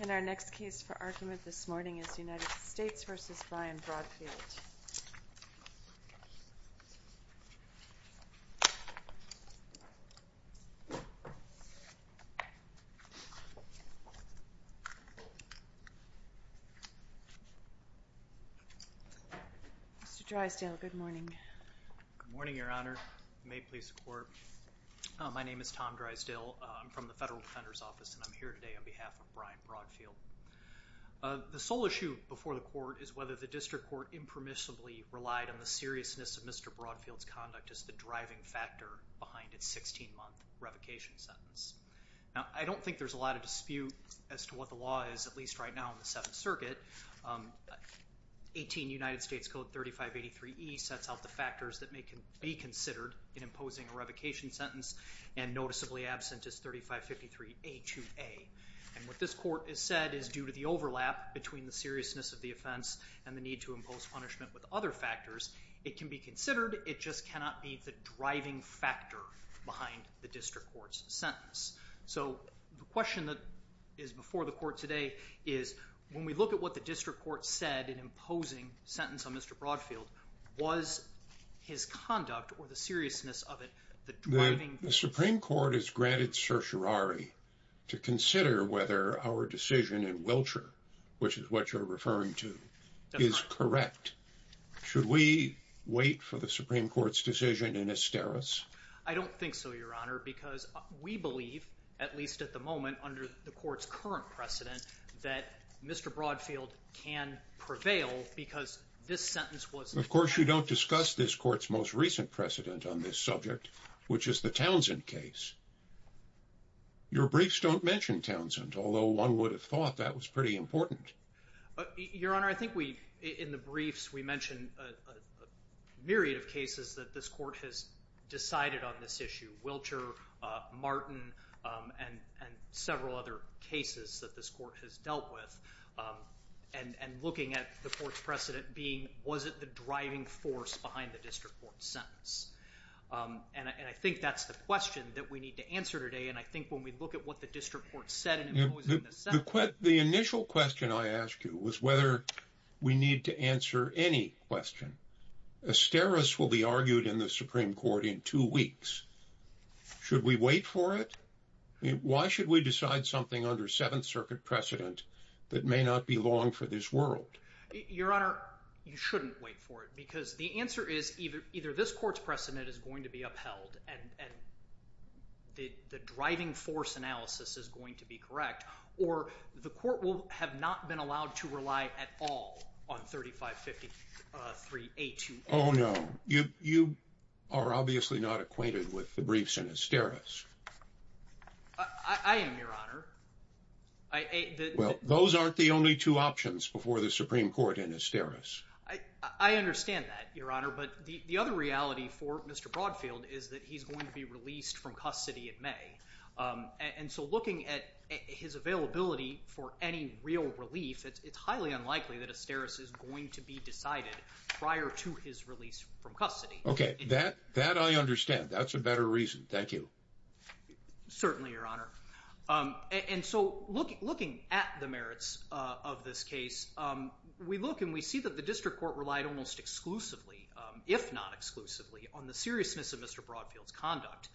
And our next case for argument this morning is United States v. Brian Broadfield. Mr. Drysdale, good morning. Good morning, Your Honor. May it please the Court. My name is Tom Drysdale. I'm from the Federal Defender's Office and I'm here today on behalf of Brian Broadfield. The sole issue before the Court is whether the District Court impermissibly relied on the seriousness of Mr. Broadfield's conduct as the driving factor behind its 16-month revocation sentence. Now, I don't think there's a lot of dispute as to what the law is, at least right now in the Seventh Circuit. 18 United States Code 3583e sets out the factors that may be considered in imposing a revocation sentence and noticeably absent is 3553a2a. And what this Court has said is due to the overlap between the seriousness of the offense and the need to impose punishment with other factors, it can be considered, it just cannot be the driving factor behind the District Court's sentence. So the question that is before the Court today is when we look at what the District Court said in imposing a sentence on Mr. Broadfield, was his conduct or the seriousness of it the driving factor? The Supreme Court has granted certiorari to consider whether our decision in Wiltshire, which is what you're referring to, is correct. Should we wait for the Supreme Court's decision in Asteros? I don't think so, Your Honor, because we believe, at least at the moment under the Court's current precedent, that Mr. Broadfield can prevail because this sentence was the driving factor. Of course, you don't discuss this Court's most recent precedent on this subject, which is the Townsend case. Your briefs don't mention Townsend, although one would have thought that was pretty important. Your Honor, I think in the briefs we mention a myriad of cases that this Court has decided on this issue, Wiltshire, Martin, and several other cases that this Court has dealt with, and looking at the Court's precedent being was it the driving force behind the District Court's sentence. And I think that's the question that we need to answer today, and I think when we look at what the District Court said in imposing the sentence— The initial question I asked you was whether we need to answer any question. Asteros will be argued in the Supreme Court in two weeks. Should we wait for it? Why should we decide something under Seventh Circuit precedent that may not be long for this world? Your Honor, you shouldn't wait for it, because the answer is either this Court's precedent is going to be upheld and the driving force analysis is going to be correct, or the Court will have not been allowed to rely at all on 3553A2A. Oh, no. You are obviously not acquainted with the briefs in Asteros. I am, Your Honor. Well, those aren't the only two options before the Supreme Court in Asteros. I understand that, Your Honor, but the other reality for Mr. Broadfield is that he's going to be released from custody in May. And so looking at his availability for any real relief, it's highly unlikely that Asteros is going to be decided prior to his release from custody. Okay, that I understand. That's a better reason. Thank you. Certainly, Your Honor. And so looking at the merits of this case, we look and we see that the district court relied almost exclusively, if not exclusively, on the seriousness of Mr. Broadfield's conduct,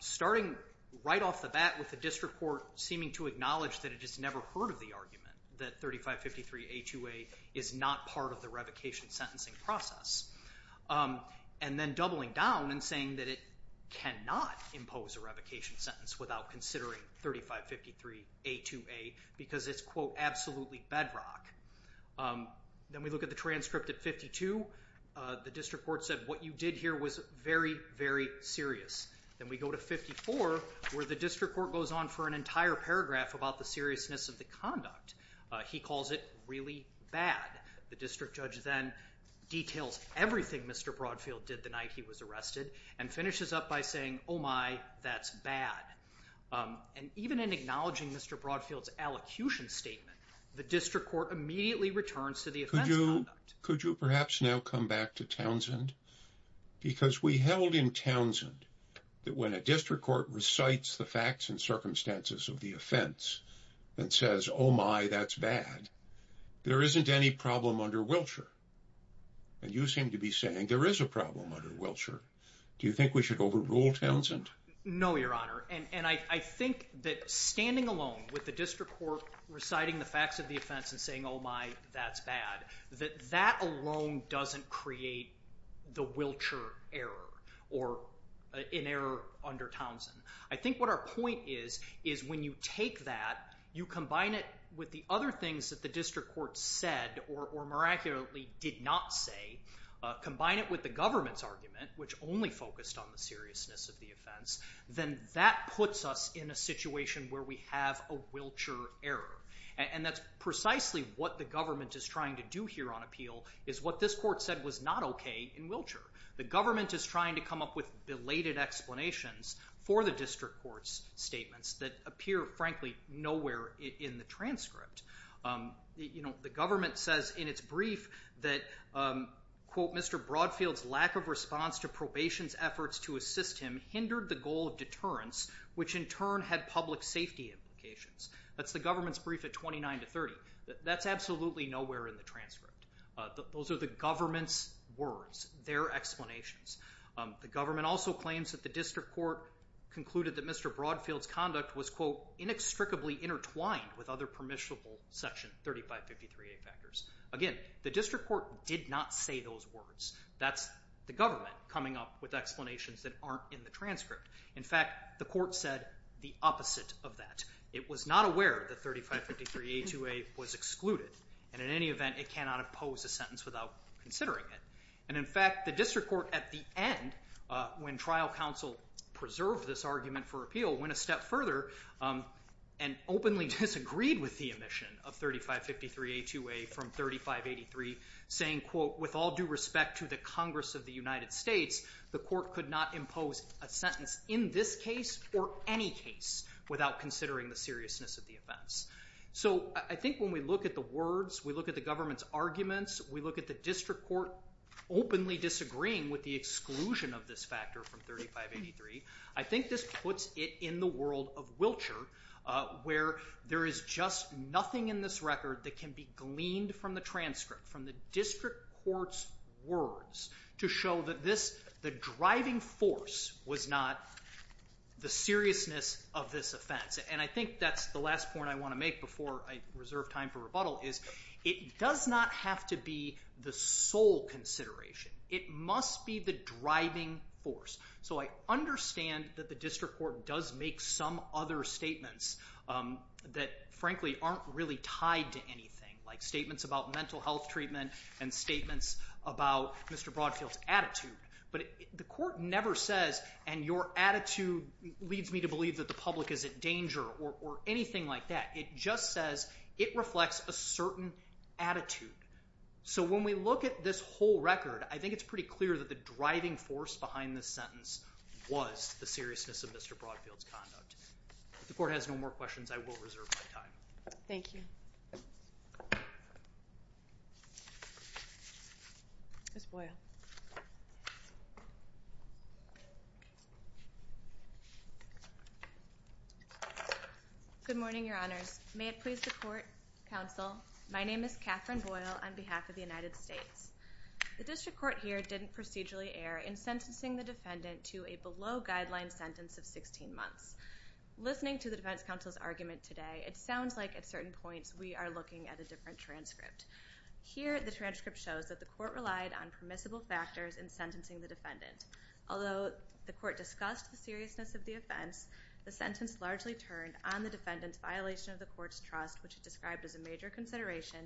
starting right off the bat with the district court seeming to acknowledge that it has never heard of the argument that 3553A2A is not part of the revocation sentencing process, and then doubling down and saying that it cannot impose a revocation sentence without considering 3553A2A, because it's, quote, absolutely bedrock. Then we look at the transcript at 52. The district court said what you did here was very, very serious. Then we go to 54, where the district court goes on for an entire paragraph about the seriousness of the conduct. He calls it really bad. The district judge then details everything Mr. Broadfield did the night he was arrested and finishes up by saying, oh, my, that's bad. And even in acknowledging Mr. Broadfield's allocution statement, the district court immediately returns to the offense conduct. Could you perhaps now come back to Townsend? Because we held in Townsend that when a district court recites the facts and circumstances of the offense and says, oh, my, that's bad, there isn't any problem under Wiltshire. And you seem to be saying there is a problem under Wiltshire. Do you think we should overrule Townsend? No, Your Honor, and I think that standing alone with the district court reciting the facts of the offense and saying, oh, my, that's bad, that that alone doesn't create the Wiltshire error or an error under Townsend. I think what our point is is when you take that, you combine it with the other things that the district court said or miraculously did not say, combine it with the government's argument, which only focused on the seriousness of the offense, then that puts us in a situation where we have a Wiltshire error. And that's precisely what the government is trying to do here on appeal is what this court said was not OK in Wiltshire. The government is trying to come up with belated explanations for the district court's statements that appear, frankly, nowhere in the transcript. You know, the government says in its brief that, quote, Mr. Broadfield's lack of response to probation's efforts to assist him hindered the goal of deterrence, which in turn had public safety implications. That's the government's brief at 29 to 30. That's absolutely nowhere in the transcript. Those are the government's words, their explanations. The government also claims that the district court concluded that Mr. Broadfield's conduct was, quote, inextricably intertwined with other permissible Section 3553A factors. Again, the district court did not say those words. That's the government coming up with explanations that aren't in the transcript. In fact, the court said the opposite of that. It was not aware that 3553A2A was excluded, and in any event it cannot impose a sentence without considering it. And in fact, the district court at the end, when trial counsel preserved this argument for appeal, went a step further and openly disagreed with the omission of 3553A2A from 3583, saying, quote, with all due respect to the Congress of the United States, the court could not impose a sentence in this case or any case without considering the seriousness of the offense. So I think when we look at the words, we look at the government's arguments, we look at the district court openly disagreeing with the exclusion of this factor from 3583, I think this puts it in the world of Wiltshire, where there is just nothing in this record that can be gleaned from the transcript, from the district court's words, to show that the driving force was not the seriousness of this offense. And I think that's the last point I want to make before I reserve time for rebuttal, is it does not have to be the sole consideration. It must be the driving force. So I understand that the district court does make some other statements that, frankly, aren't really tied to anything, like statements about mental health treatment and statements about Mr. Broadfield's attitude, but the court never says, and your attitude leads me to believe that the public is in danger or anything like that. It just says it reflects a certain attitude. So when we look at this whole record, I think it's pretty clear that the driving force behind this sentence was the seriousness of Mr. Broadfield's conduct. If the court has no more questions, I will reserve my time. Thank you. Ms. Boyle. Good morning, Your Honors. May it please the court, counsel, my name is Kathryn Boyle on behalf of the United States. The district court here didn't procedurally err in sentencing the defendant to a below-guideline sentence of 16 months. Listening to the defense counsel's argument today, it sounds like at certain points we are looking at a different transcript. Here the transcript shows that the court relied on permissible factors in sentencing the defendant. Although the court discussed the seriousness of the offense, the sentence largely turned on the defendant's violation of the court's trust, which it described as a major consideration,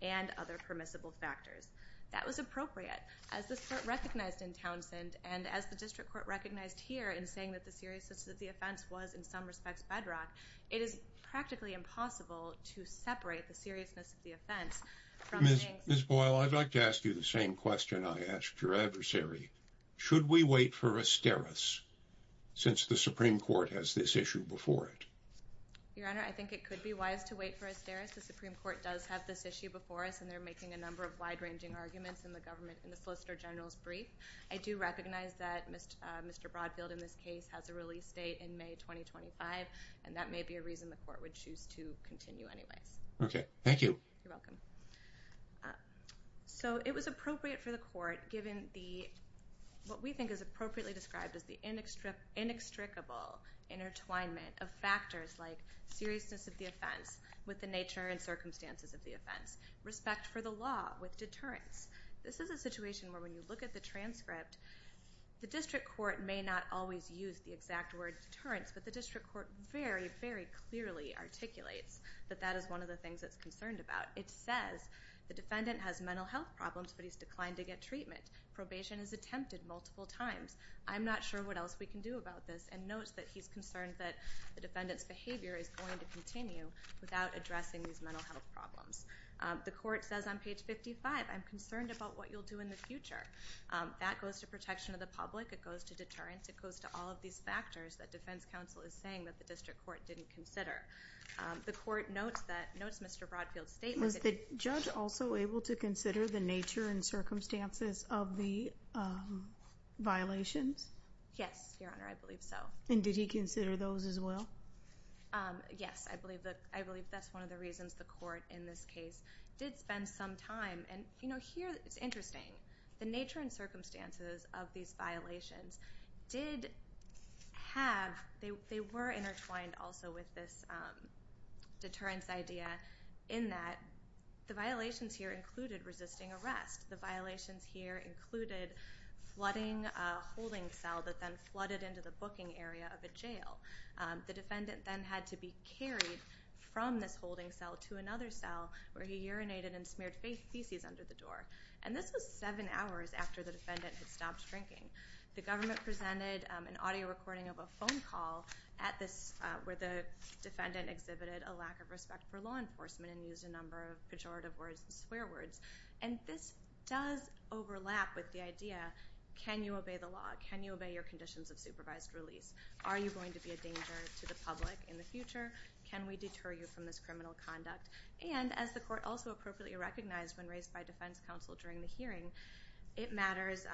and other permissible factors. That was appropriate. As the court recognized in Townsend, and as the district court recognized here in saying that the seriousness of the offense was, in some respects, bedrock, it is practically impossible to separate the seriousness of the offense from saying something Ms. Boyle, I'd like to ask you the same question I asked your adversary. Should we wait for a steris since the Supreme Court has this issue before it? Your Honor, I think it could be wise to wait for a steris. The Supreme Court does have this issue before us, and they're making a number of wide-ranging arguments in the solicitor general's brief. I do recognize that Mr. Broadfield in this case has a release date in May 2025, and that may be a reason the court would choose to continue anyways. Okay. Thank you. You're welcome. So it was appropriate for the court, given what we think is appropriately described as the inextricable intertwinement of factors like seriousness of the offense with the nature and circumstances of the offense, respect for the law with deterrence. This is a situation where when you look at the transcript, the district court may not always use the exact word deterrence, but the district court very, very clearly articulates that that is one of the things it's concerned about. It says the defendant has mental health problems, but he's declined to get treatment. Probation is attempted multiple times. I'm not sure what else we can do about this, and notes that he's concerned that the defendant's behavior is going to continue without addressing these mental health problems. The court says on page 55, I'm concerned about what you'll do in the future. That goes to protection of the public. It goes to deterrence. It goes to all of these factors that defense counsel is saying that the district court didn't consider. The court notes Mr. Broadfield's statement. Was the judge also able to consider the nature and circumstances of the violations? Yes, Your Honor, I believe so. And did he consider those as well? Yes, I believe that's one of the reasons the court in this case did spend some time. And, you know, here it's interesting. The nature and circumstances of these violations did have, they were intertwined also with this deterrence idea in that the violations here included resisting arrest. The violations here included flooding a holding cell that then flooded into the booking area of a jail. The defendant then had to be carried from this holding cell to another cell where he urinated and smeared feces under the door. And this was seven hours after the defendant had stopped drinking. The government presented an audio recording of a phone call at this, where the defendant exhibited a lack of respect for law enforcement and used a number of pejorative words and swear words. And this does overlap with the idea, can you obey the law? Can you obey your conditions of supervised release? Are you going to be a danger to the public in the future? Can we deter you from this criminal conduct? And as the court also appropriately recognized when raised by defense counsel during the hearing, it matters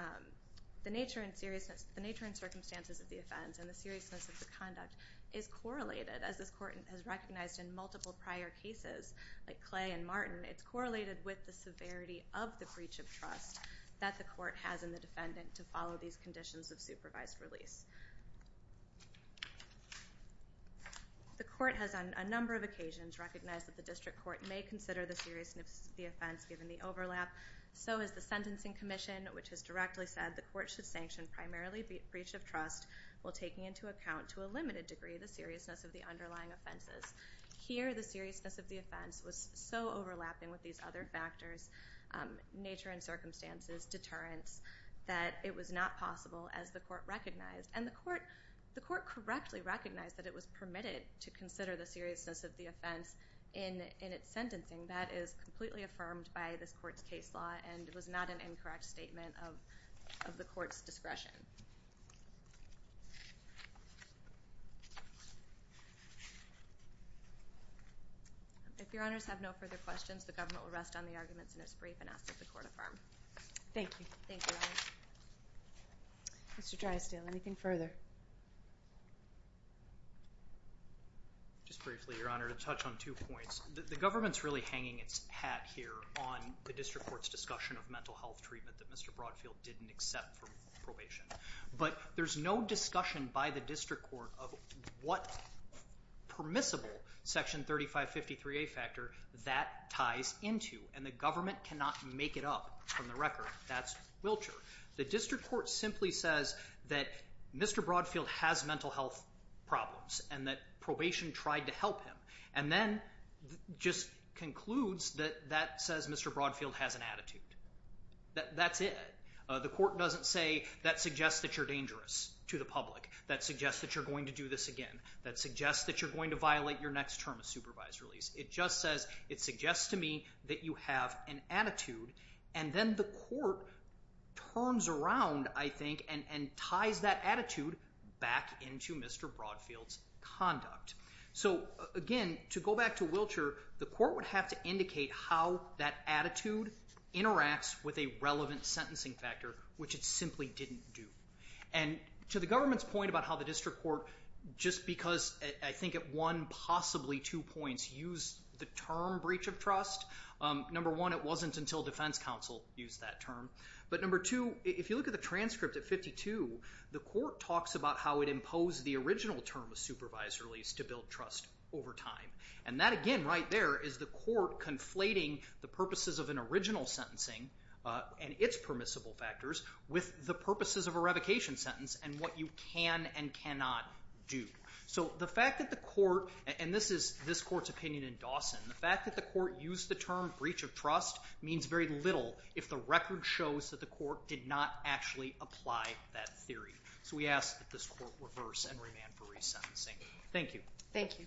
the nature and circumstances of the offense and the seriousness of the conduct is correlated. As this court has recognized in multiple prior cases, like Clay and Martin, it's correlated with the severity of the breach of trust that the court has in the defendant to follow these conditions of supervised release. The court has on a number of occasions recognized that the district court may consider the seriousness of the offense given the overlap. So has the Sentencing Commission, which has directly said the court should sanction primarily breach of trust while taking into account to a limited degree the seriousness of the underlying offenses. Here, the seriousness of the offense was so overlapping with these other factors, nature and circumstances, deterrence, that it was not possible, as the court recognized, and the court correctly recognized that it was permitted to consider the seriousness of the offense in its sentencing. That is completely affirmed by this court's case law, and it was not an incorrect statement of the court's discretion. If Your Honors have no further questions, the government will rest on the arguments in its brief and ask that the court affirm. Thank you. Thank you, Your Honors. Mr. Drysdale, anything further? Just briefly, Your Honor, to touch on two points. The government's really hanging its hat here on the district court's discussion of mental health treatment that Mr. Broadfield didn't accept for probation. But there's no discussion by the district court of what permissible Section 3553A factor that ties into, and the government cannot make it up from the record. That's Wiltshire. The district court simply says that Mr. Broadfield has mental health problems and that probation tried to help him, and then just concludes that that says Mr. Broadfield has an attitude. That's it. The court doesn't say that suggests that you're dangerous to the public, that suggests that you're going to do this again, that suggests that you're going to violate your next term of supervisory lease. It just says it suggests to me that you have an attitude, and then the court turns around, I think, and ties that attitude back into Mr. Broadfield's conduct. So, again, to go back to Wiltshire, the court would have to indicate how that attitude interacts with a relevant sentencing factor, which it simply didn't do. And to the government's point about how the district court, just because I think it won possibly two points, used the term breach of trust. Number one, it wasn't until defense counsel used that term. But number two, if you look at the transcript at 52, the court talks about how it imposed the original term of supervisory lease to build trust over time. And that, again, right there is the court conflating the purposes of an original sentencing and its permissible factors with the purposes of a revocation sentence and what you can and cannot do. So the fact that the court, and this is this court's opinion in Dawson, the fact that the court used the term breach of trust means very little if the record shows that the court did not actually apply that theory. So we ask that this court reverse and remand for resentencing. Thank you. Thank you.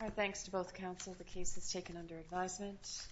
All right, thanks to both counsel. The case is taken under advisement.